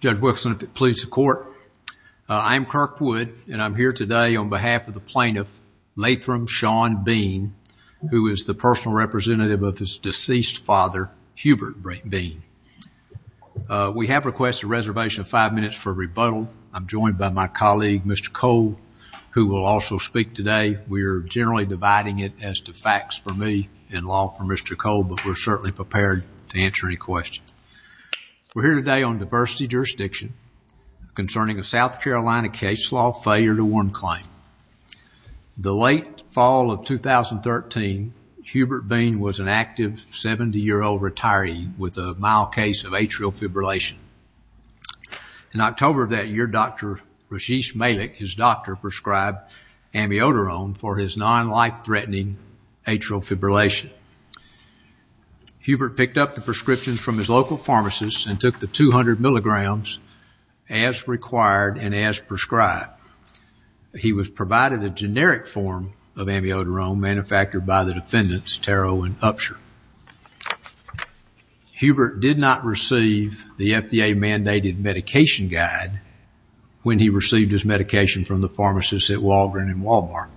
Judge Wilson, if it pleases the court, I'm Kirk Wood and I'm here today on behalf of the plaintiff, Latham Sean Bean, who is the personal representative of his deceased father, Hubert Bean. We have requested a reservation of five minutes for rebuttal. I'm joined by my colleague, Mr. Cole, who will also speak today. We are generally dividing it as to facts for me and law for Mr. Cole, but we're certainly prepared to answer any questions. We're here today on diversity jurisdiction concerning a South Carolina case law failure to warrant claim. The late fall of 2013, Hubert Bean was an active 70-year-old retiree with a mild case of atrial fibrillation. In October of that year, Dr. Rajesh Malik, his doctor, prescribed amiodarone for his non-life-threatening atrial fibrillation. Hubert picked up the prescriptions from his local pharmacist and took the 200 milligrams as required and as prescribed. He was provided a generic form of amiodarone manufactured by the defendants, Terrell and Upsher. Hubert did not receive the FDA mandated medication guide when he received his medication from the pharmacist at Walgreens and Walmart.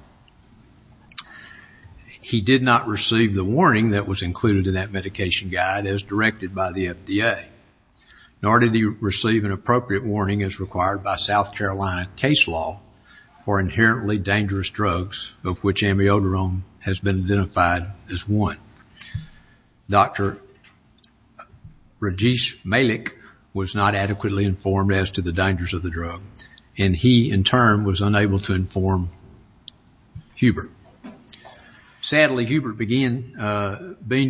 He did not receive the warning that was included in that medication guide as directed by the FDA, nor did he receive an appropriate warning as required by South Carolina case law for inherently dangerous drugs, of which amiodarone has been identified as one. Dr. Rajesh Malik was not adequately informed as to the dangers of the drug, and he, in turn, was unable to inform Hubert. Sadly, Hubert Bean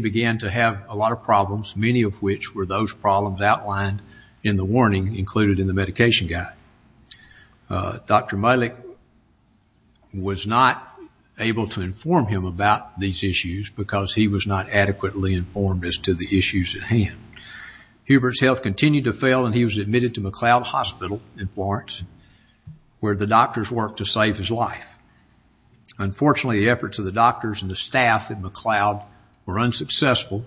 began to have a lot of problems, many of which were those problems outlined in the warning included in the medication guide. Dr. Malik was not able to inform him about these issues because he was not adequately informed as to the issues at hand. Hubert's health continued to fail, and he was admitted to McLeod Hospital in Florence, where the doctors worked to save his life. Unfortunately, the efforts of the doctors and the staff at McLeod were unsuccessful,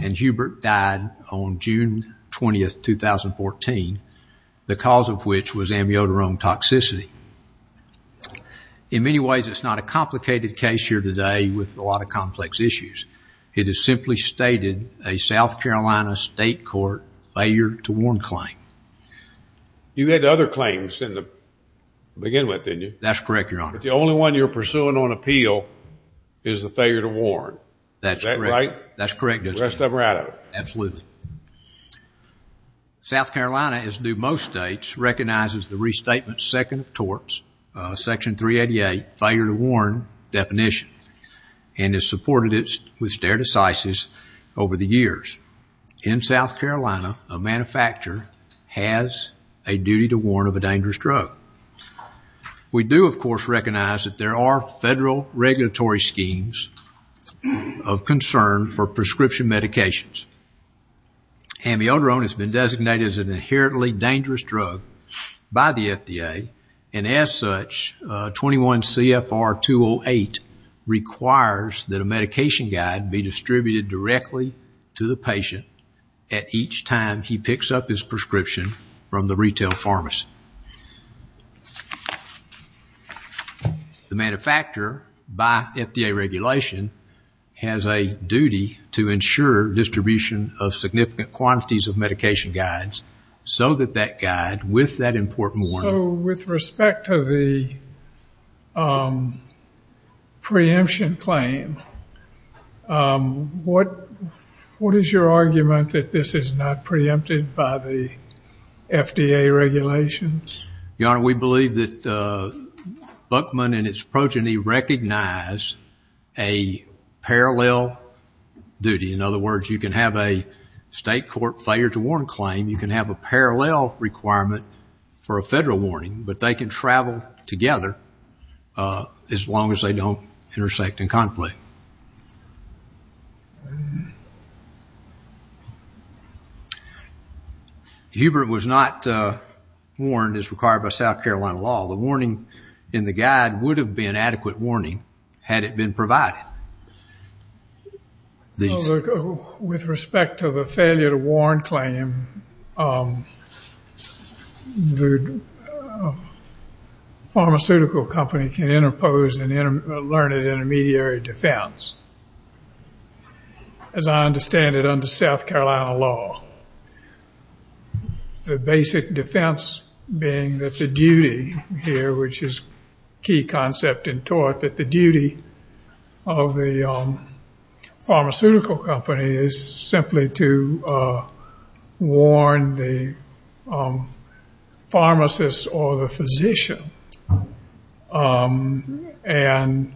and Hubert died on June 20, 2014, the cause of which was amiodarone toxicity. In many ways, it's not a complicated case here today with a lot of complex issues. It is simply stated a South Carolina state court failure to warn claim. You had other claims to begin with, didn't you? That's correct, Your Honor. The only one you're pursuing on appeal is the failure to warn. That's correct. Is that right? The rest of them are out of it. Absolutely. South Carolina, as do most states, recognizes the restatement second of torts, Section 388, failure to warn definition, and has supported it with stare decisis over the years. In South Carolina, a manufacturer has a duty to warn of a dangerous drug. We do, of course, recognize that there are federal regulatory schemes of concern for prescription medications. Amiodarone has been designated as an inherently dangerous drug by the FDA, and as such, 21 CFR 208 requires that a medication guide be distributed directly to the patient at each time he picks up his prescription from the retail pharmacy. The manufacturer, by FDA regulation, has a duty to ensure distribution of significant quantities of medication guides so that that guide, with that important warning- So with respect to the preemption claim, what is your argument that this is not preempted by the FDA regulations? Your Honor, we believe that Buckman and its progeny recognize a parallel duty. In other words, you can have a state court failure to warn claim, you can have a parallel requirement for a federal warning, but they can travel together as long as they don't intersect in conflict. Hubert was not warned as required by South Carolina law. The warning in the guide would have been adequate warning had it been provided. With respect to the failure to warn claim, the pharmaceutical company can interpose a learned intermediary defense, as I understand it under South Carolina law. The basic defense being that the duty here, which is a key concept in tort, that the duty of the pharmaceutical company is simply to warn the pharmacist or the physician. And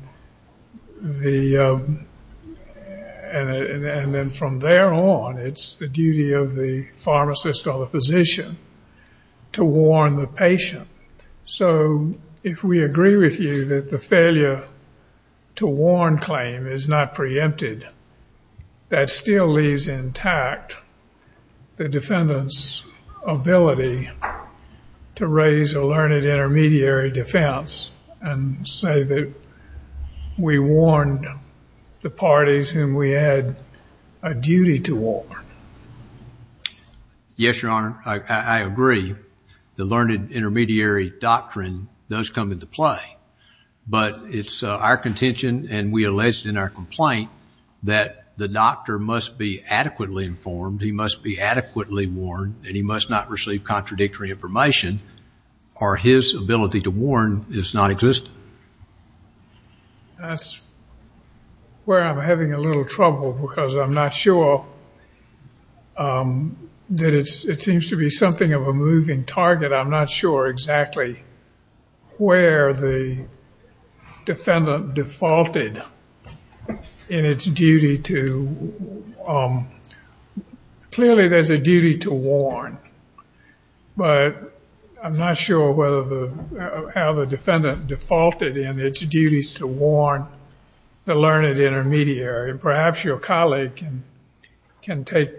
then from there on, it's the duty of the pharmacist or the physician to warn the patient. So if we agree with you that the failure to warn claim is not preempted, that still leaves intact the defendant's ability to raise a learned intermediary defense and say that we warned the parties whom we had a duty to warn. Yes, Your Honor. I agree. The learned intermediary doctrine does come into play. But it's our contention, and we alleged in our complaint, that the doctor must be adequately informed, he must be adequately warned, and he must not receive contradictory information, or his ability to warn is nonexistent. That's where I'm having a little trouble, because I'm not sure that it seems to be something of a moving target. I'm not sure exactly where the defendant defaulted in its duty to, but I'm not sure how the defendant defaulted in its duties to warn the learned intermediary. Perhaps your colleague can take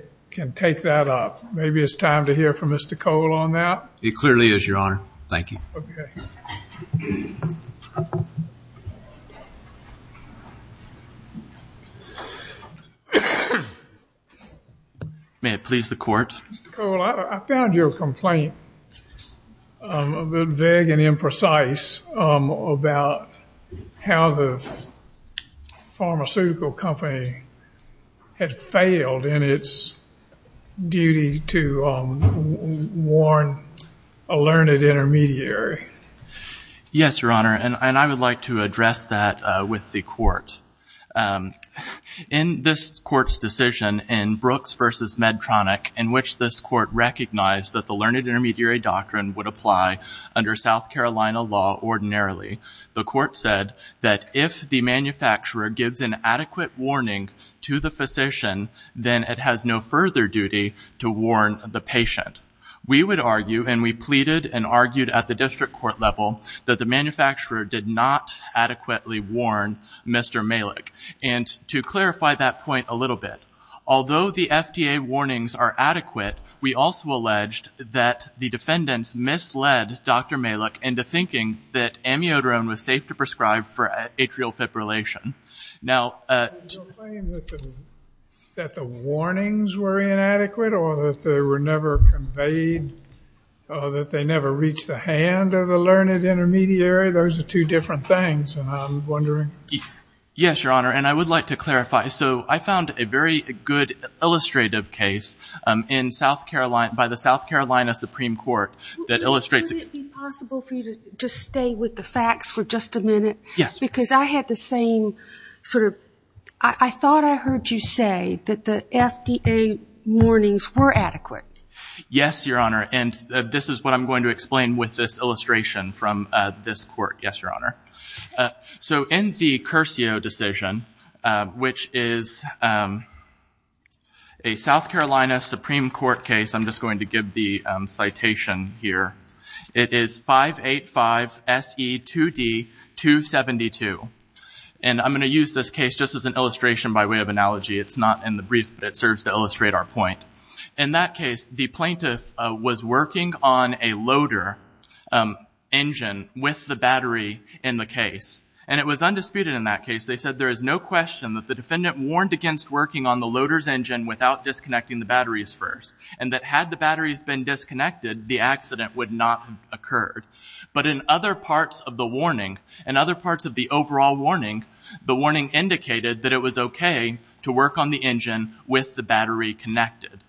that up. Maybe it's time to hear from Mr. Cole on that. It clearly is, Your Honor. Thank you. Okay. May it please the Court? Mr. Cole, I found your complaint a bit vague and imprecise about how the pharmaceutical company had failed in its duty to warn a learned intermediary. Yes, Your Honor, and I would like to address that with the Court. In this Court's decision in Brooks v. Medtronic, in which this Court recognized that the learned intermediary doctrine would apply under South Carolina law ordinarily, the Court said that if the manufacturer gives an adequate warning to the physician, then it has no further duty to warn the patient. We would argue, and we pleaded and argued at the district court level, that the manufacturer did not adequately warn Mr. Malik. And to clarify that point a little bit, although the FDA warnings are adequate, we also alleged that the defendants misled Dr. Malik into thinking that amiodarone was safe to prescribe for atrial fibrillation. Now... Your claim that the warnings were inadequate or that they were never conveyed or that they never reached the hand of the learned intermediary, those are two different things, and I'm wondering... Yes, Your Honor, and I would like to clarify. So I found a very good illustrative case by the South Carolina Supreme Court that illustrates... Would it be possible for you to just stay with the facts for just a minute? Yes. Because I had the same sort of... I thought I heard you say that the FDA warnings were adequate. Yes, Your Honor, and this is what I'm going to explain with this illustration from this court. Yes, Your Honor. So in the Curcio decision, which is a South Carolina Supreme Court case... I'm just going to give the citation here. It is 585SE2D272. And I'm going to use this case just as an illustration by way of analogy. It's not in the brief, but it serves to illustrate our point. In that case, the plaintiff was working on a loader engine with the battery in the case. And it was undisputed in that case. They said there is no question that the defendant warned against working on the loader's engine without disconnecting the batteries first, and that had the batteries been disconnected, the accident would not have occurred. But in other parts of the warning, in other parts of the overall warning, the warning indicated that it was okay to work on the engine with the battery connected.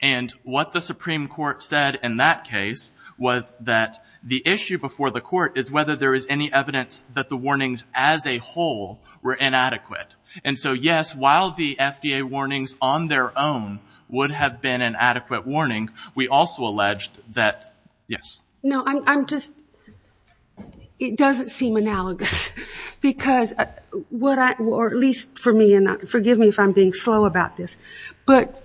And what the Supreme Court said in that case was that the issue before the court is whether there is any evidence that the warnings as a whole were inadequate. And so, yes, while the FDA warnings on their own would have been an adequate warning, we also alleged that, yes. No, I'm just, it doesn't seem analogous because what I, or at least for me, and forgive me if I'm being slow about this, but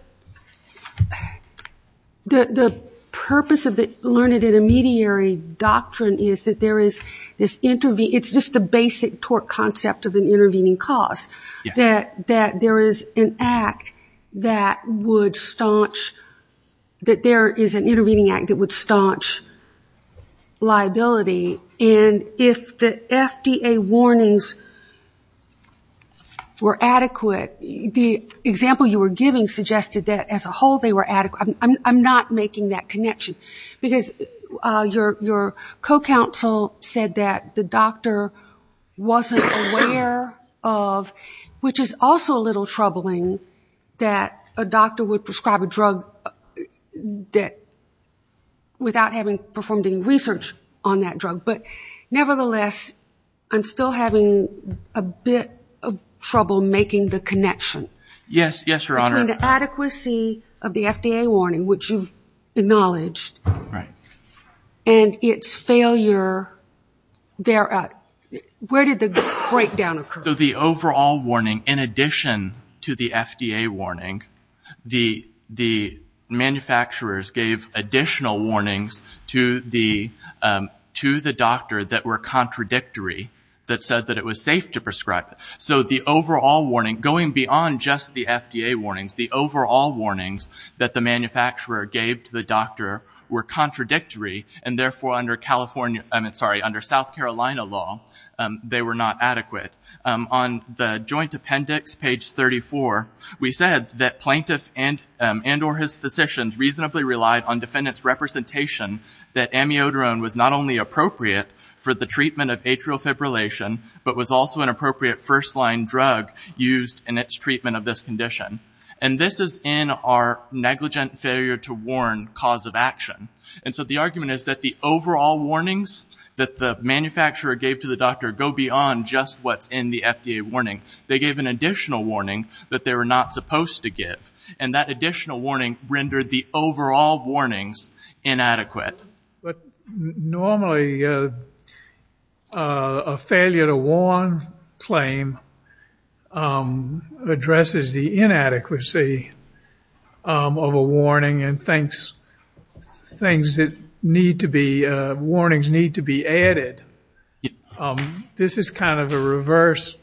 the purpose of the learned intermediary doctrine is that there is this, it's just the basic torque concept of an intervening cause, that there is an act that would staunch, that there is an intervening act that would staunch liability. And if the FDA warnings were adequate, the example you were giving suggested that as a whole they were adequate. I'm not making that connection. Because your co-counsel said that the doctor wasn't aware of, which is also a little troubling that a doctor would prescribe a drug that, without having performed any research on that drug. But nevertheless, I'm still having a bit of trouble making the connection. Yes, Your Honor. Between the adequacy of the FDA warning, which you've acknowledged, and its failure, where did the breakdown occur? So the overall warning, in addition to the FDA warning, the manufacturers gave additional warnings to the doctor that were contradictory, that said that it was safe to prescribe. So the overall warning, going beyond just the FDA warnings, the overall warnings that the manufacturer gave to the doctor were contradictory, and therefore under South Carolina law, they were not adequate. On the joint appendix, page 34, we said that, Plaintiff and or his physicians reasonably relied on defendant's representation that amiodarone was not only appropriate for the treatment of atrial fibrillation, but was also an appropriate first-line drug used in its treatment of this condition. And this is in our negligent failure to warn cause of action. And so the argument is that the overall warnings that the manufacturer gave to the doctor go beyond just what's in the FDA warning. They gave an additional warning that they were not supposed to give, and that additional warning rendered the overall warnings inadequate. Normally, a failure to warn claim addresses the inadequacy of a warning and things that need to be, warnings need to be added. This is kind of a reverse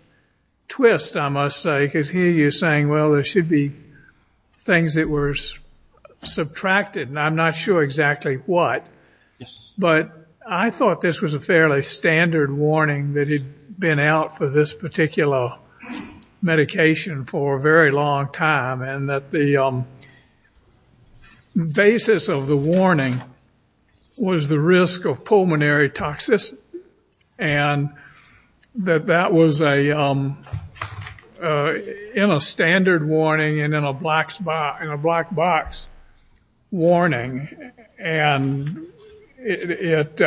twist, I must say, because here you're saying, well, there should be things that were subtracted, and I'm not sure exactly what. But I thought this was a fairly standard warning that had been out for this particular medication for a very long time, and that the basis of the warning was the risk of pulmonary toxicity, and that that was in a standard warning and in a black box warning. And it,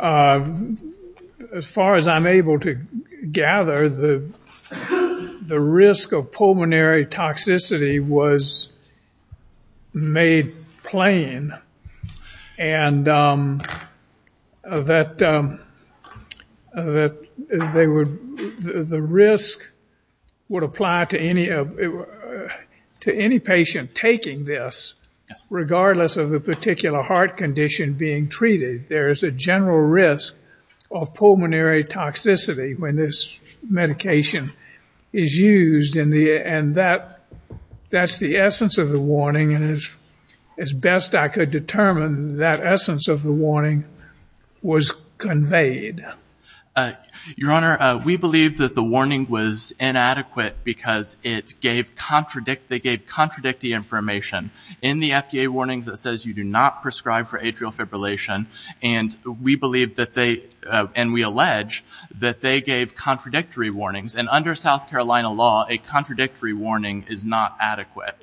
as far as I'm able to gather, the risk of pulmonary toxicity was made plain. And that they would, the risk would apply to any patient taking this, regardless of the particular heart condition being treated. There is a general risk of pulmonary toxicity when this medication is used, and that's the essence of the warning. And as best I could determine, that essence of the warning was conveyed. Your Honor, we believe that the warning was inadequate because it gave contradictory information. In the FDA warnings, it says you do not prescribe for atrial fibrillation, and we believe that they, and we allege that they gave contradictory warnings. And under South Carolina law, a contradictory warning is not adequate,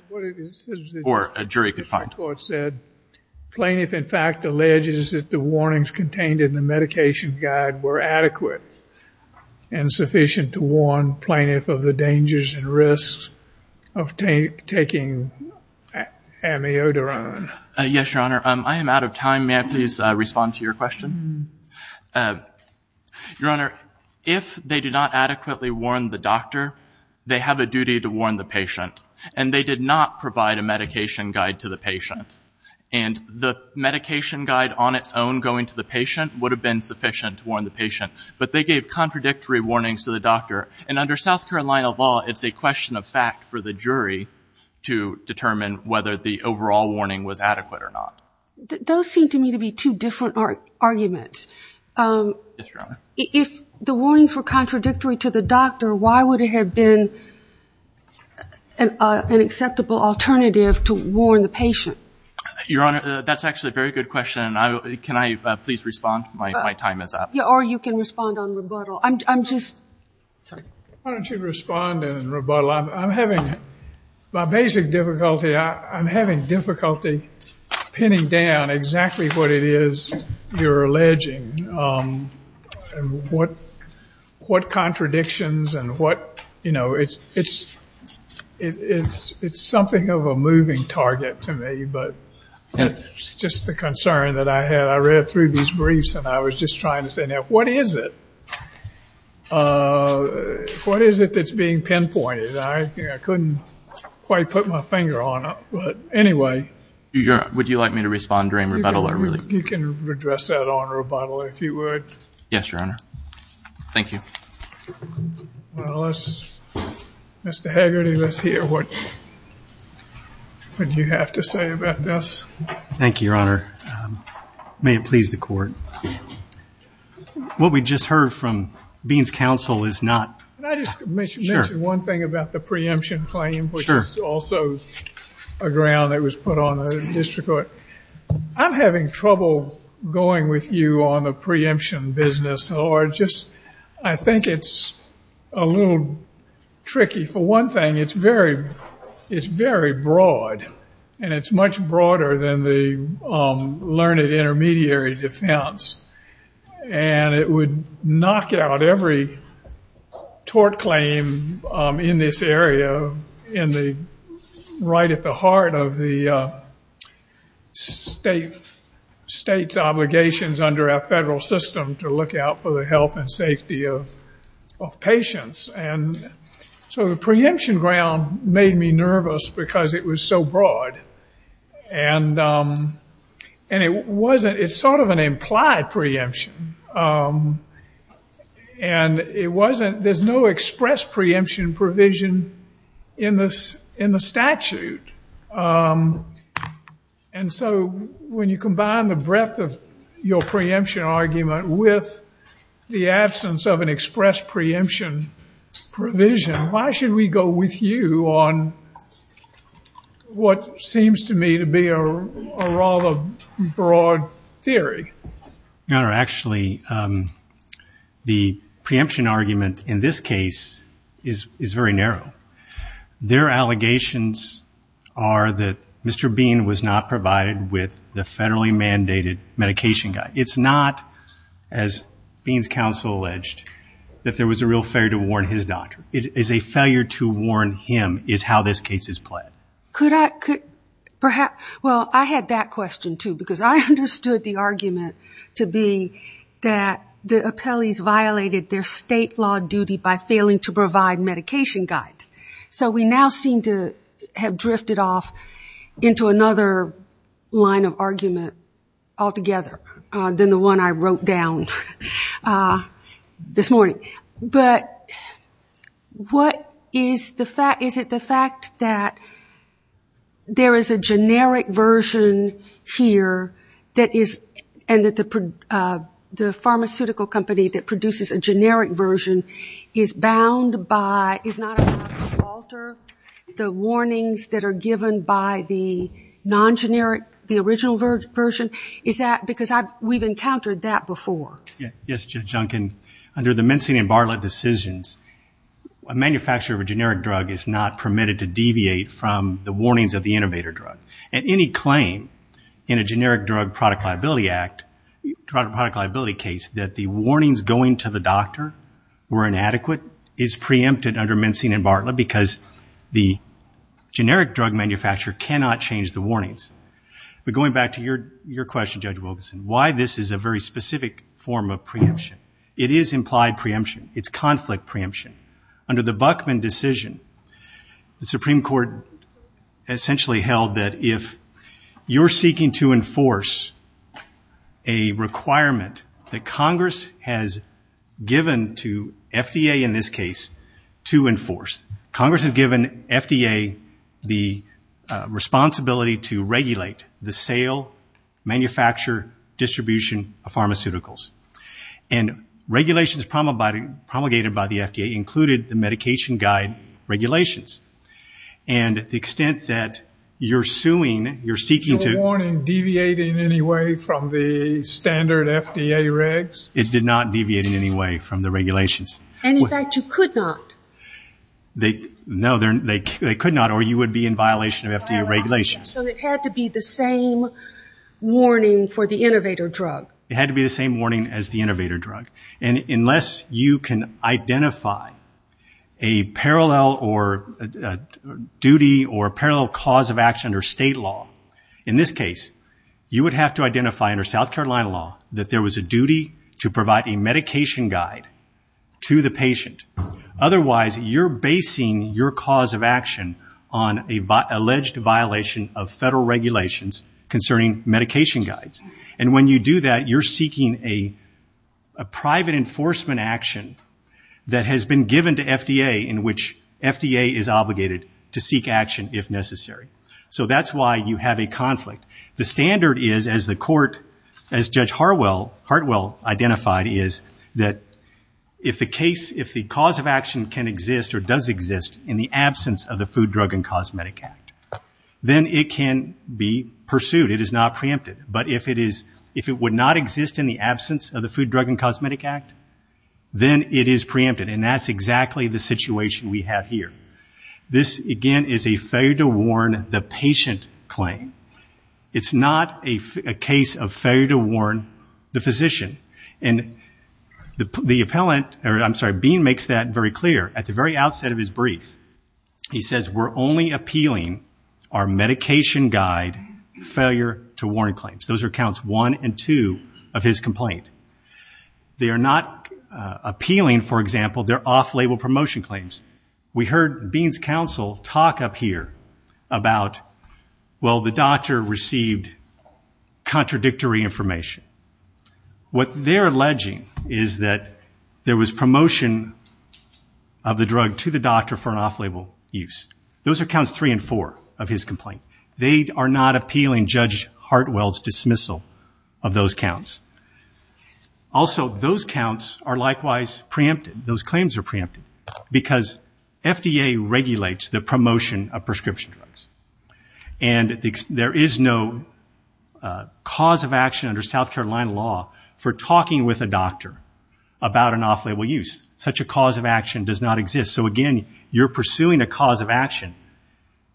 or a jury could find. Plaintiff, in fact, alleges that the warnings contained in the medication guide were adequate and sufficient to warn plaintiff of the dangers and risks of taking amiodarone. Yes, Your Honor. I am out of time. May I please respond to your question? Your Honor, if they did not adequately warn the doctor, they have a duty to warn the patient. And they did not provide a medication guide to the patient. And the medication guide on its own going to the patient would have been sufficient to warn the patient. But they gave contradictory warnings to the doctor. And under South Carolina law, it's a question of fact for the jury to determine whether the overall warning was adequate or not. Those seem to me to be two different arguments. Yes, Your Honor. If the warnings were contradictory to the doctor, why would it have been an acceptable alternative to warn the patient? Your Honor, that's actually a very good question. Can I please respond? My time is up. Or you can respond on rebuttal. I'm just – sorry. Why don't you respond on rebuttal? Well, I'm having – my basic difficulty, I'm having difficulty pinning down exactly what it is you're alleging and what contradictions and what – you know, it's something of a moving target to me. But just the concern that I had. I read through these briefs and I was just trying to say, now, what is it? What is it that's being pinpointed? I couldn't quite put my finger on it. But anyway. Would you like me to respond during rebuttal? You can address that on rebuttal if you would. Yes, Your Honor. Thank you. Well, let's – Mr. Haggerty, let's hear what you have to say about this. Thank you, Your Honor. May it please the Court. What we just heard from Beans Counsel is not – Can I just mention one thing about the preemption claim? Sure. Which is also a ground that was put on the district court. I'm having trouble going with you on the preemption business. Or just – I think it's a little tricky. For one thing, it's very broad. And it's much broader than the learned intermediary defense. And it would knock out every tort claim in this area in the – right at the heart of the state's obligations under our federal system to look out for the health and safety of patients. And so the preemption ground made me nervous because it was so broad. And it wasn't – it's sort of an implied preemption. And it wasn't – there's no express preemption provision in the statute. And so when you combine the breadth of your preemption argument with the absence of an express preemption provision, why should we go with you on what seems to me to be a rather broad theory? Your Honor, actually, the preemption argument in this case is very narrow. Their allegations are that Mr. Bean was not provided with the federally mandated medication guide. It's not, as Bean's counsel alleged, that there was a real failure to warn his doctor. It is a failure to warn him is how this case is played. Could I – well, I had that question, too, because I understood the argument to be that the appellees violated their state law duty by failing to provide medication guides. So we now seem to have drifted off into another line of argument altogether than the one I wrote down this morning. But what is the fact – is it the fact that there is a generic version here that is – and that the pharmaceutical company that produces a generic version is bound by – is not allowed to alter the warnings that are given by the non-generic, the original version? Is that because we've encountered that before? Yes, Judge Duncan. Under the Mencin and Bartlett decisions, a manufacturer of a generic drug is not permitted to deviate from the warnings of the innovator drug. And any claim in a generic drug product liability act, product liability case, that the warnings going to the doctor were inadequate is preempted under Mencin and Bartlett because the generic drug manufacturer cannot change the warnings. But going back to your question, Judge Wilkerson, why this is a very specific form of preemption. It is implied preemption. It's conflict preemption. Under the Buckman decision, the Supreme Court essentially held that if you're seeking to enforce a requirement that Congress has given to FDA, in this case, to enforce, Congress has given FDA the responsibility to regulate the sale, manufacture, distribution of pharmaceuticals. And regulations promulgated by the FDA included the medication guide regulations. And the extent that you're suing, you're seeking to- Is your warning deviating in any way from the standard FDA regs? It did not deviate in any way from the regulations. And, in fact, you could not? No, they could not, or you would be in violation of FDA regulations. So it had to be the same warning for the innovator drug? It had to be the same warning as the innovator drug. And unless you can identify a parallel duty or a parallel cause of action under state law, in this case, you would have to identify, under South Carolina law, that there was a duty to provide a medication guide to the patient. Otherwise, you're basing your cause of action on an alleged violation of federal regulations concerning medication guides. And when you do that, you're seeking a private enforcement action that has been given to FDA in which FDA is obligated to seek action if necessary. So that's why you have a conflict. The standard is, as Judge Hartwell identified, is that if the cause of action can exist or does exist in the absence of the Food, Drug, and Cosmetic Act, then it can be pursued. It is not preempted. But if it would not exist in the absence of the Food, Drug, and Cosmetic Act, then it is preempted. And that's exactly the situation we have here. This, again, is a failure to warn the patient claim. It's not a case of failure to warn the physician. And the appellant, or I'm sorry, Bean makes that very clear. At the very outset of his brief, he says, we're only appealing our medication guide failure to warn claims. Those are counts one and two of his complaint. They are not appealing, for example, their off-label promotion claims. We heard Bean's counsel talk up here about, well, the doctor received contradictory information. What they're alleging is that there was promotion of the drug to the doctor for an off-label use. Those are counts three and four of his complaint. They are not appealing Judge Hartwell's dismissal of those counts. Also, those counts are likewise preempted, those claims are preempted, because FDA regulates the promotion of prescription drugs. And there is no cause of action under South Carolina law for talking with a doctor about an off-label use. Such a cause of action does not exist. So, again, you're pursuing a cause of action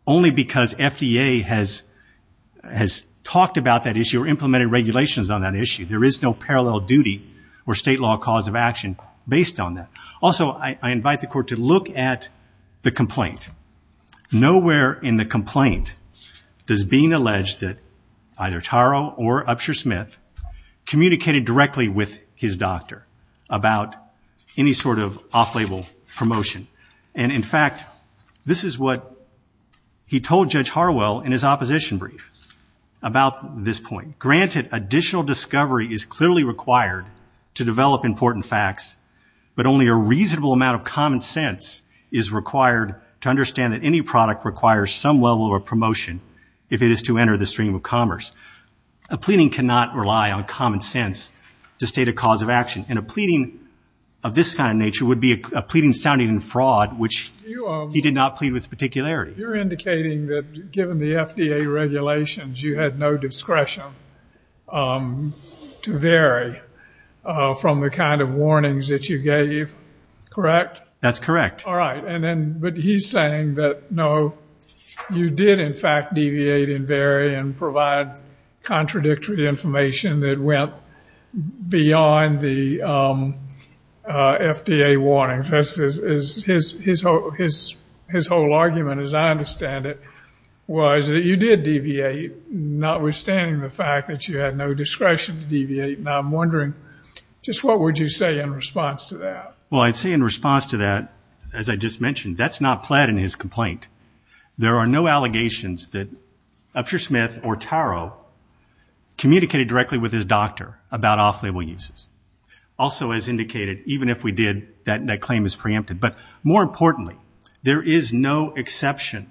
only because FDA has talked about that issue or implemented regulations on that issue. There is no parallel duty or state law cause of action based on that. Nowhere in the complaint does Bean allege that either Taro or Upshur Smith communicated directly with his doctor about any sort of off-label promotion. And, in fact, this is what he told Judge Hartwell in his opposition brief about this point. Granted, additional discovery is clearly required to develop important facts, but only a reasonable amount of common sense is required to understand that any product requires some level of promotion if it is to enter the stream of commerce. A pleading cannot rely on common sense to state a cause of action, and a pleading of this kind of nature would be a pleading sounding in fraud, which he did not plead with particularity. You're indicating that, given the FDA regulations, you had no discretion to vary from the kind of warnings that you gave, correct? That's correct. All right. But he's saying that, no, you did, in fact, deviate and vary and provide contradictory information that went beyond the FDA warnings. His whole argument, as I understand it, was that you did deviate, notwithstanding the fact that you had no discretion to deviate, and I'm wondering just what would you say in response to that? Well, I'd say in response to that, as I just mentioned, that's not pled in his complaint. There are no allegations that Upshur Smith or Taro communicated directly with his doctor about off-label uses. Also, as indicated, even if we did, that claim is preempted. But more importantly, there is no exception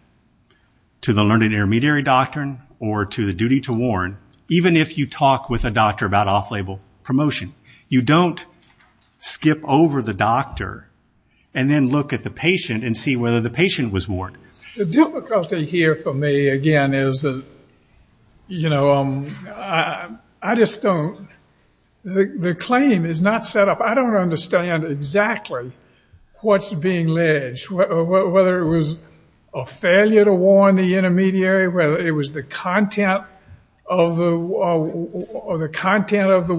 to the learned intermediary doctrine or to the duty to warn, even if you talk with a doctor about off-label promotion. You don't skip over the doctor and then look at the patient and see whether the patient was warned. The difficulty here for me, again, is that, you know, I just don't. The claim is not set up. I don't understand exactly what's being alleged, whether it was a failure to warn the intermediary, whether it was the content of the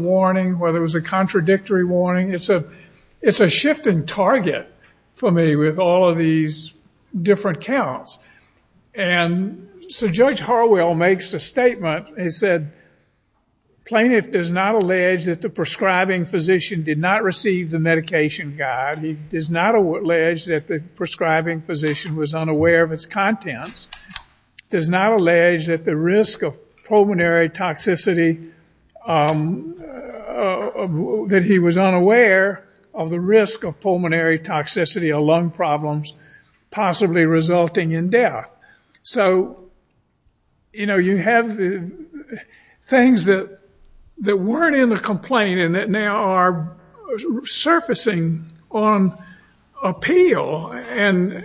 warning, whether it was a contradictory warning. It's a shift in target for me with all of these different counts. And so Judge Harwell makes a statement. He said, Plaintiff does not allege that the prescribing physician did not receive the medication guide. He does not allege that the prescribing physician was unaware of its contents. Does not allege that the risk of pulmonary toxicity, that he was unaware of the risk of pulmonary toxicity or lung problems possibly resulting in death. So, you know, you have things that weren't in the complaint and that now are surfacing on appeal. And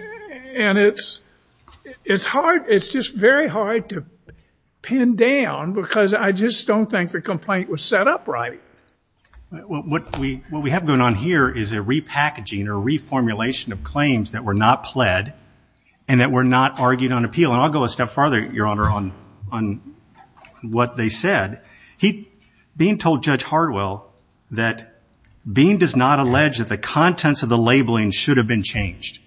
it's hard, it's just very hard to pin down because I just don't think the complaint was set up right. What we have going on here is a repackaging or reformulation of claims that were not pled and that were not argued on appeal. And I'll go a step farther, Your Honor, on what they said. Bean told Judge Harwell that Bean does not allege that the contents of the labeling should have been changed.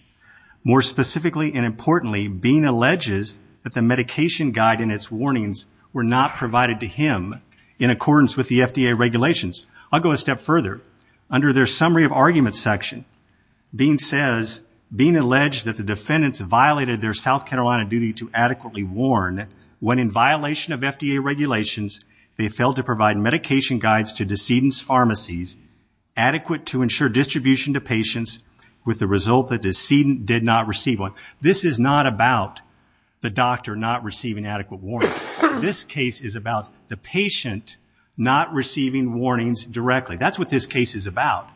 More specifically and importantly, Bean alleges that the medication guide and its warnings were not provided to him in accordance with the FDA regulations. I'll go a step further. Under their summary of arguments section, Bean says, Bean alleged that the defendants violated their South Carolina duty to adequately warn when in violation of FDA regulations they failed to provide medication guides to decedent's pharmacies adequate to ensure distribution to patients with the result the decedent did not receive one. This is not about the doctor not receiving adequate warnings. This case is about the patient not receiving warnings directly. That's what this case is about.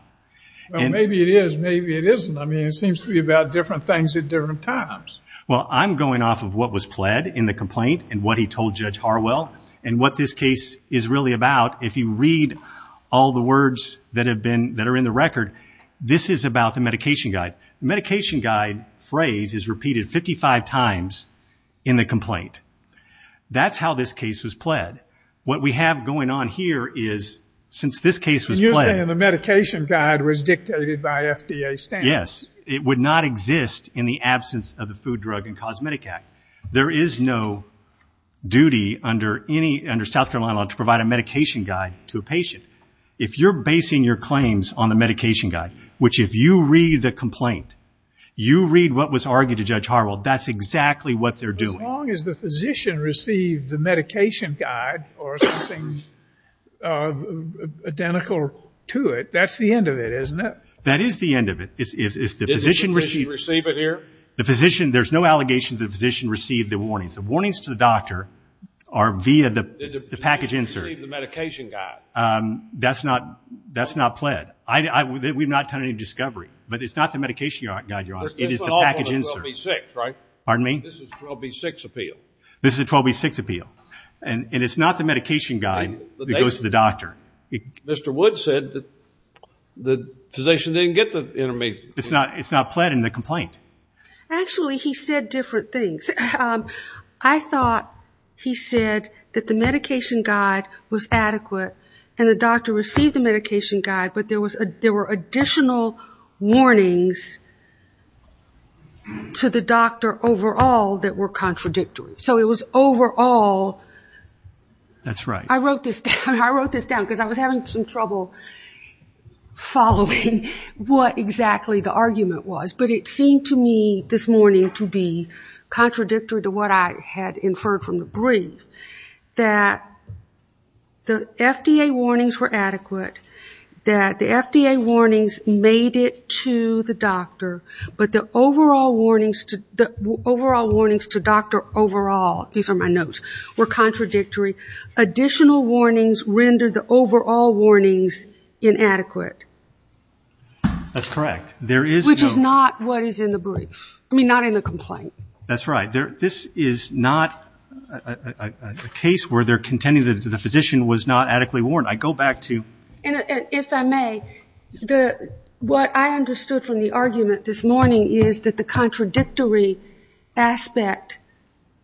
Well, maybe it is, maybe it isn't. I mean, it seems to be about different things at different times. Well, I'm going off of what was pled in the complaint and what he told Judge Harwell and what this case is really about. If you read all the words that are in the record, this is about the medication guide. The medication guide phrase is repeated 55 times in the complaint. That's how this case was pled. What we have going on here is since this case was pled. You're saying the medication guide was dictated by FDA standards. Yes. It would not exist in the absence of the Food, Drug, and Cosmetic Act. There is no duty under South Carolina law to provide a medication guide to a patient. If you're basing your claims on the medication guide, which if you read the complaint, you read what was argued to Judge Harwell, that's exactly what they're doing. As long as the physician received the medication guide or something identical to it, that's the end of it, isn't it? That is the end of it. Did the physician receive it here? There's no allegation that the physician received the warnings. The warnings to the doctor are via the package insert. The physician received the medication guide. That's not pled. We've not done any discovery. But it's not the medication guide, Your Honor. It is the package insert. This is 12B6, right? Pardon me? This is a 12B6 appeal. This is a 12B6 appeal. And it's not the medication guide that goes to the doctor. Mr. Woods said that the physician didn't get the intermediate. It's not pled in the complaint. Actually, he said different things. I thought he said that the medication guide was adequate and the doctor received the medication guide, but there were additional warnings to the doctor overall that were contradictory. So it was overall. That's right. I wrote this down because I was having some trouble following what exactly the argument was. But it seemed to me this morning to be contradictory to what I had inferred from the brief, that the FDA warnings were adequate, that the FDA warnings made it to the doctor, but the overall warnings to doctor overall, these are my notes, were contradictory. Additional warnings rendered the overall warnings inadequate. That's correct. Which is not what is in the brief. I mean, not in the complaint. That's right. This is not a case where they're contending that the physician was not adequately warned. I go back to. If I may, what I understood from the argument this morning is that the contradictory aspect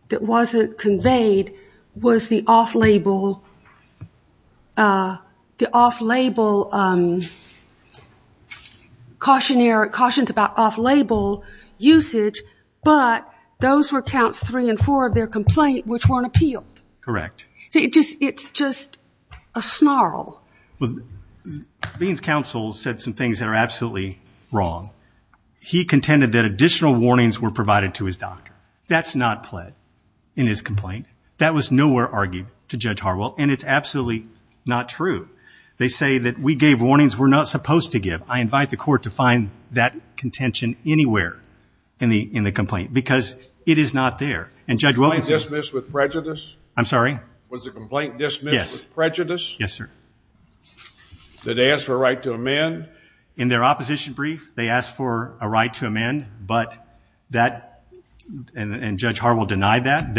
that wasn't conveyed was the off-label, the off-label cautionary, cautions about off-label usage, but those were counts three and four of their complaint which weren't appealed. Correct. So it's just a snarl. Well, Dean's counsel said some things that are absolutely wrong. He contended that additional warnings were provided to his doctor. Now, that's not pled in his complaint. That was nowhere argued to Judge Harwell, and it's absolutely not true. They say that we gave warnings we're not supposed to give. I invite the court to find that contention anywhere in the complaint, because it is not there. And Judge Williams. Was the complaint dismissed with prejudice? I'm sorry? Was the complaint dismissed with prejudice? Yes, sir. Did they ask for a right to amend? In their opposition brief, they asked for a right to amend, and Judge Harwell denied that.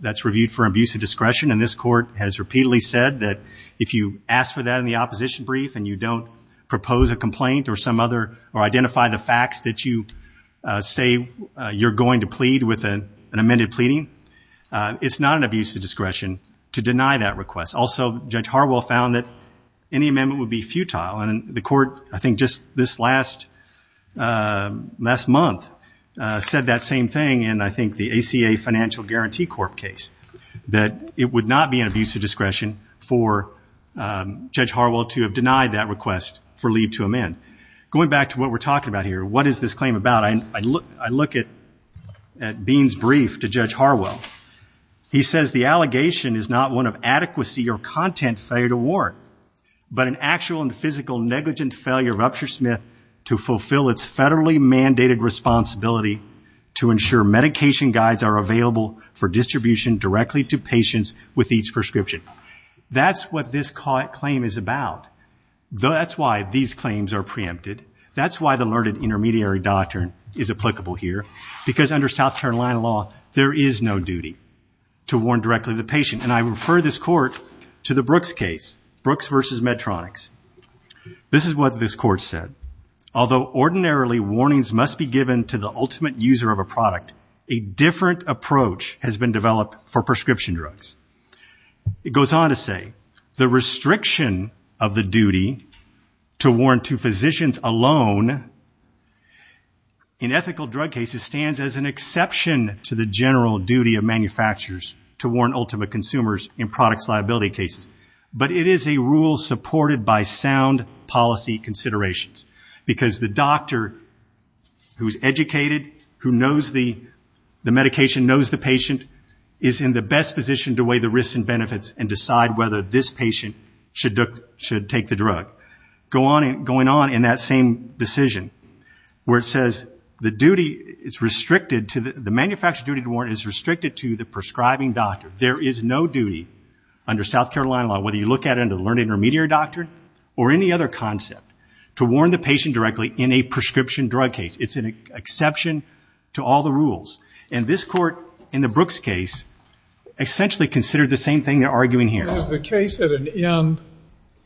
That's reviewed for abuse of discretion, and this court has repeatedly said that if you ask for that in the opposition brief and you don't propose a complaint or identify the facts that you say you're going to plead with an amended pleading, it's not an abuse of discretion to deny that request. Also, Judge Harwell found that any amendment would be futile. And the court, I think just this last month, said that same thing in, I think, the ACA Financial Guarantee Corp case, that it would not be an abuse of discretion for Judge Harwell to have denied that request for leave to amend. Going back to what we're talking about here, what is this claim about? I look at Bean's brief to Judge Harwell. He says the allegation is not one of adequacy or content failure to warrant, but an actual and physical negligent failure of Upshur-Smith to fulfill its federally mandated responsibility to ensure medication guides are available for distribution directly to patients with each prescription. That's what this claim is about. That's why these claims are preempted. That's why the learned intermediary doctrine is applicable here, because under South Carolina law, there is no duty to warrant directly to the patient. And I refer this court to the Brooks case, Brooks v. Medtronics. This is what this court said. Although ordinarily warnings must be given to the ultimate user of a product, a different approach has been developed for prescription drugs. It goes on to say the restriction of the duty to warrant to physicians alone in ethical drug cases stands as an exception to the general duty of manufacturers to warrant ultimate consumers in products liability cases. But it is a rule supported by sound policy considerations, because the doctor who is educated, who knows the medication, knows the patient, is in the best position to weigh the risks and benefits and decide whether this patient should take the drug. It goes on in that same decision, where it says the manufactured duty to warrant is restricted to the prescribing doctor. There is no duty under South Carolina law, whether you look at it under the learned intermediary doctrine or any other concept, to warn the patient directly in a prescription drug case. It's an exception to all the rules. And this court, in the Brooks case, essentially considered the same thing they're arguing here. Is the case at an end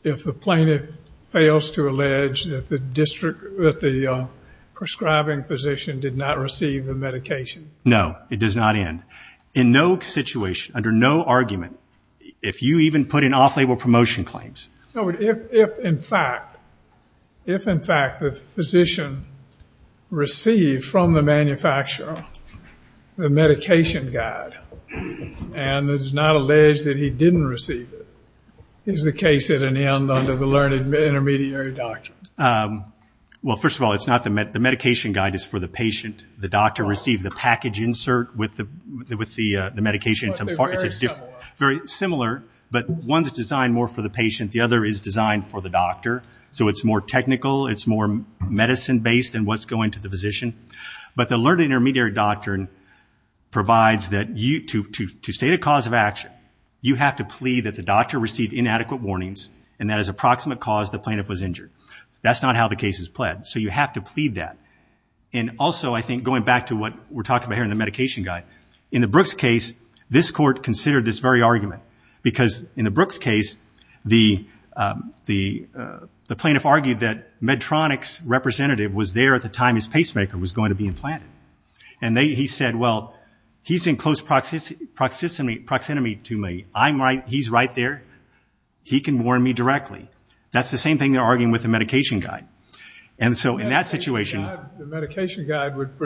if the plaintiff fails to allege that the prescribing physician did not receive the medication? No, it does not end. In no situation, under no argument, if you even put in off-label promotion claims. No, but if in fact the physician received from the manufacturer the medication guide and is not alleged that he didn't receive it, is the case at an end under the learned intermediary doctrine? Well, first of all, the medication guide is for the patient. The doctor received the package insert with the medication. But they're very similar. But one's designed more for the patient. The other is designed for the doctor. So it's more technical. It's more medicine-based than what's going to the physician. But the learned intermediary doctrine provides that to state a cause of action, you have to plead that the doctor received inadequate warnings and that as approximate cause the plaintiff was injured. That's not how the case is pled. So you have to plead that. And also, I think, going back to what we're talking about here in the medication guide, in the Brooks case, this court considered this very argument. Because in the Brooks case, the plaintiff argued that Medtronic's representative was there at the time his pacemaker was going to be implanted. And he said, well, he's in close proximity to me. He's right there. He can warn me directly. That's the same thing they're arguing with the medication guide. And so in that situation the medication guide would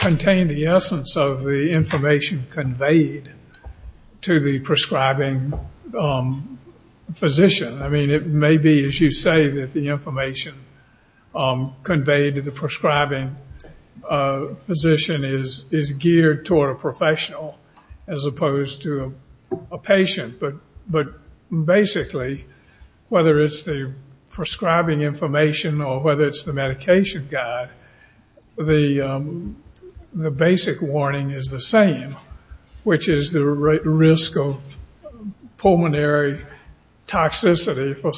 contain the essence of the information conveyed to the prescribing physician. I mean, it may be, as you say, that the information conveyed to the prescribing physician is geared toward a professional as opposed to a patient. But basically, whether it's the prescribing information or whether it's the medication guide, the basic warning is the same, which is the risk of pulmonary toxicity for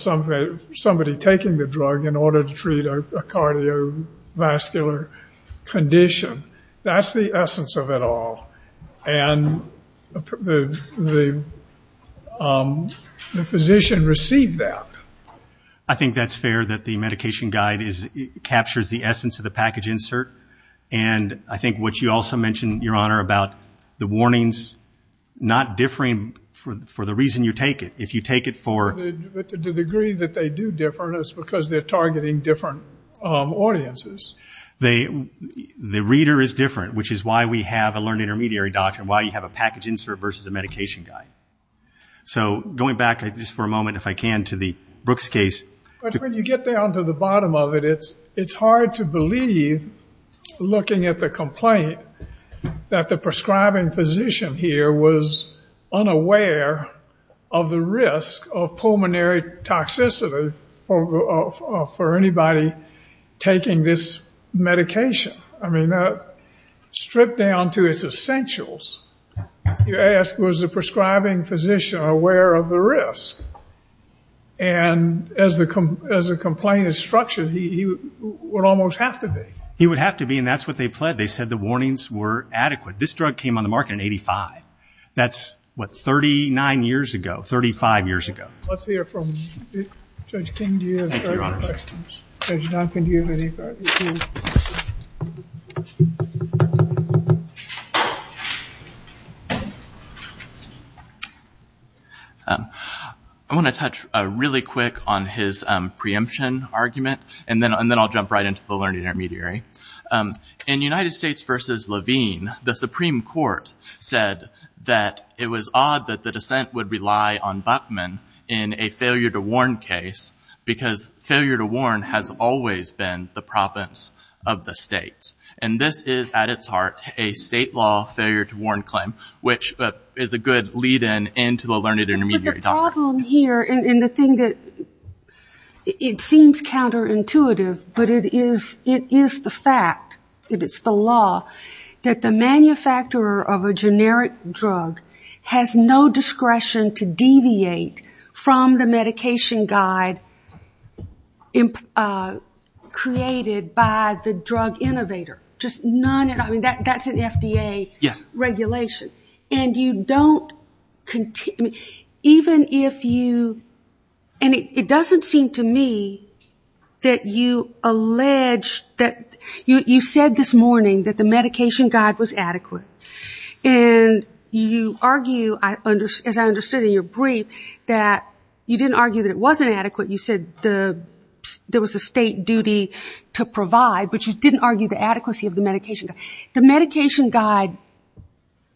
somebody taking the drug in order to treat a cardiovascular condition. That's the essence of it all. And the physician received that. I think that's fair that the medication guide captures the essence of the package insert. And I think what you also mentioned, Your Honor, about the warnings not differing for the reason you take it. The degree that they do differ is because they're targeting different audiences. The reader is different, which is why we have a learned intermediary doctrine, why you have a package insert versus a medication guide. So going back just for a moment, if I can, to the Brooks case. But when you get down to the bottom of it, it's hard to believe looking at the complaint that the prescribing physician here was unaware of the risk of pulmonary toxicity for anybody taking this medication. I mean, stripped down to its essentials, you ask was the prescribing physician aware of the risk? And as the complaint is structured, he would almost have to be. He would have to be, and that's what they pled. They said the warnings were adequate. This drug came on the market in 1985. That's, what, 39 years ago, 35 years ago. Let's hear from Judge King. Do you have any questions? Judge Duncan, do you have any questions? I want to touch really quick on his preemption argument, and then I'll jump right into the learned intermediary. In United States versus Levine, the Supreme Court said that it was odd that the dissent would rely on Bachman in a failure to warn case because failure to warn has always been the province of the states. And this is, at its heart, a state law failure to warn claim, which is a good lead-in into the learned intermediary doctrine. The problem here, and the thing that it seems counterintuitive, but it is the fact, it is the law, that the manufacturer of a generic drug has no discretion to deviate from the medication guide created by the drug innovator, just none. I mean, that's an FDA regulation. And you don't, even if you, and it doesn't seem to me that you allege that, you said this morning that the medication guide was adequate. And you argue, as I understood in your brief, that you didn't argue that it wasn't adequate. You said there was a state duty to provide, but you didn't argue the adequacy of the medication guide. The medication guide,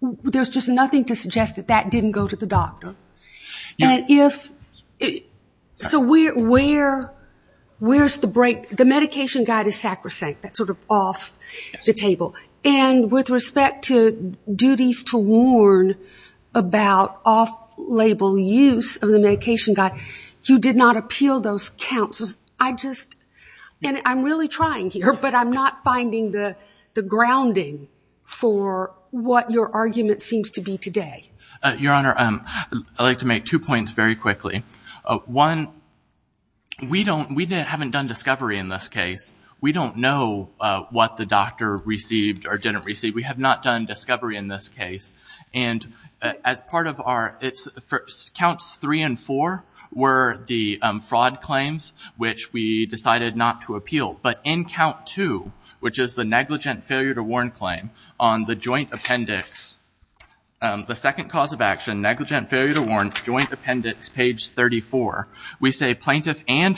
there's just nothing to suggest that that didn't go to the doctor. And if, so where's the break? The medication guide is sacrosanct, that's sort of off the table. And with respect to duties to warn about off-label use of the medication guide, you did not appeal those counts. And I'm really trying here, but I'm not finding the grounding for what your argument seems to be today. Your Honor, I'd like to make two points very quickly. One, we haven't done discovery in this case. We don't know what the doctor received or didn't receive. We have not done discovery in this case. And as part of our, counts three and four were the fraud claims, which we decided not to appeal. But in count two, which is the negligent failure to warn claim, on the joint appendix, the second cause of action, negligent failure to warn, joint appendix, page 34, we say plaintiff and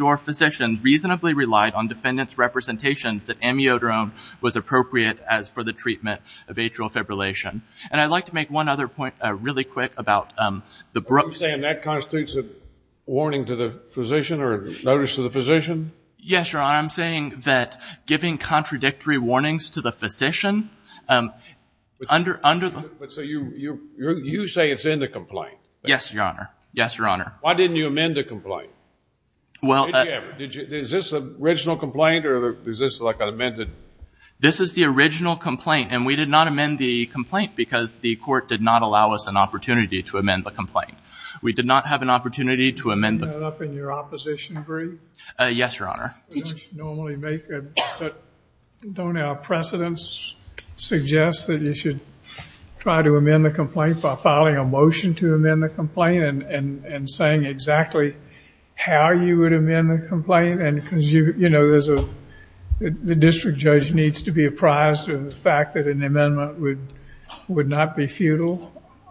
or physicians reasonably relied on defendant's representations that amiodarone was appropriate as for the treatment of atrial fibrillation. And I'd like to make one other point really quick about the broost. Are you saying that constitutes a warning to the physician or a notice to the physician? Yes, Your Honor. I'm saying that giving contradictory warnings to the physician under the- But so you say it's in the complaint. Yes, Your Honor. Yes, Your Honor. Why didn't you amend the complaint? Well- Did you ever? Is this the original complaint or is this like an amended? This is the original complaint. And we did not amend the complaint because the court did not allow us an opportunity to amend the complaint. We did not have an opportunity to amend the- Is that up in your opposition brief? Yes, Your Honor. Don't our precedents suggest that you should try to amend the complaint by filing a motion to amend the complaint and saying exactly how you would amend the complaint? And because, you know, there's a- the district judge needs to be apprised of the fact that an amendment would not be futile.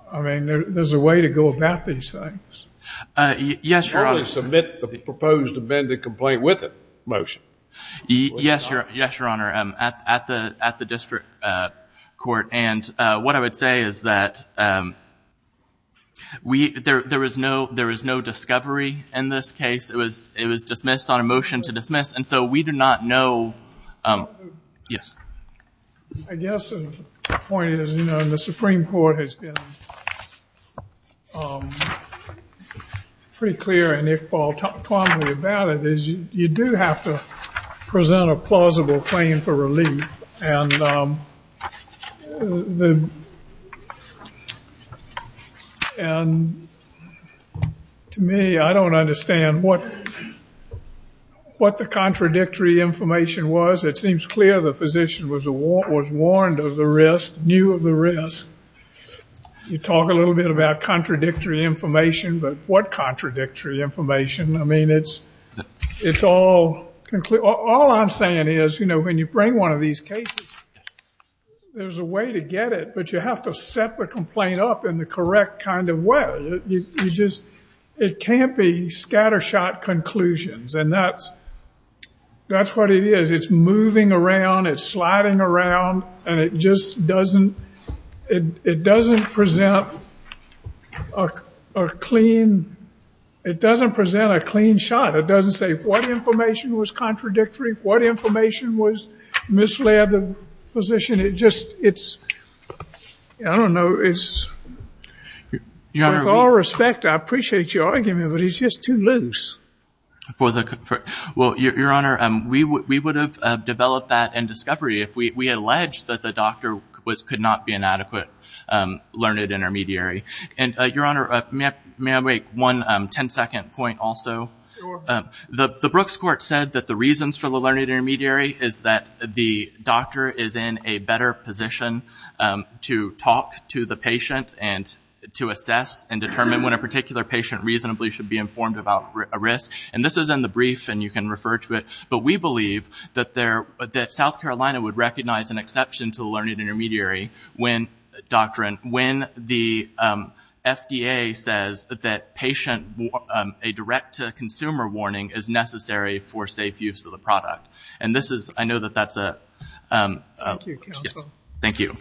I mean, there's a way to go about these things. Yes, Your Honor. Surely submit the proposed amended complaint with a motion. Yes, Your Honor. At the district court. And what I would say is that we- there is no discovery in this case. It was dismissed on a motion to dismiss. And so we do not know- Yes. I guess the point is, you know, and the Supreme Court has been pretty clear and Iqbal told me about it, is you do have to present a plausible claim for relief. And to me, I don't understand what the contradictory information was. It seems clear the physician was warned of the risk, knew of the risk. You talk a little bit about contradictory information, but what contradictory information? I mean, it's all- all I'm saying is, you know, when you bring one of these cases, there's a way to get it, but you have to set the complaint up in the correct kind of way. You just- it can't be scattershot conclusions. And that's- that's what it is. It's moving around, it's sliding around, and it just doesn't- it doesn't present a clean- it doesn't present a clean shot. It doesn't say what information was contradictory, what information was misled the physician. It just- it's- I don't know, it's- Your Honor- With all respect, I appreciate your argument, but it's just too loose. For the- well, Your Honor, we would have developed that in discovery if we had alleged that the doctor was- could not be an adequate learned intermediary. And, Your Honor, may I make one ten-second point also? Sure. The- the Brooks Court said that the reasons for the learned intermediary is that the doctor is in a better position to talk to the patient and to assess and determine when a particular patient reasonably should be informed about a risk. And this is in the brief, and you can refer to it, but we believe that there- that South Carolina would recognize an exception to the learned intermediary when- doctrine- when the FDA says that patient- a direct-to-consumer warning is necessary for safe use of the product. And this is- I know that that's a- Thank you, counsel. Thank you.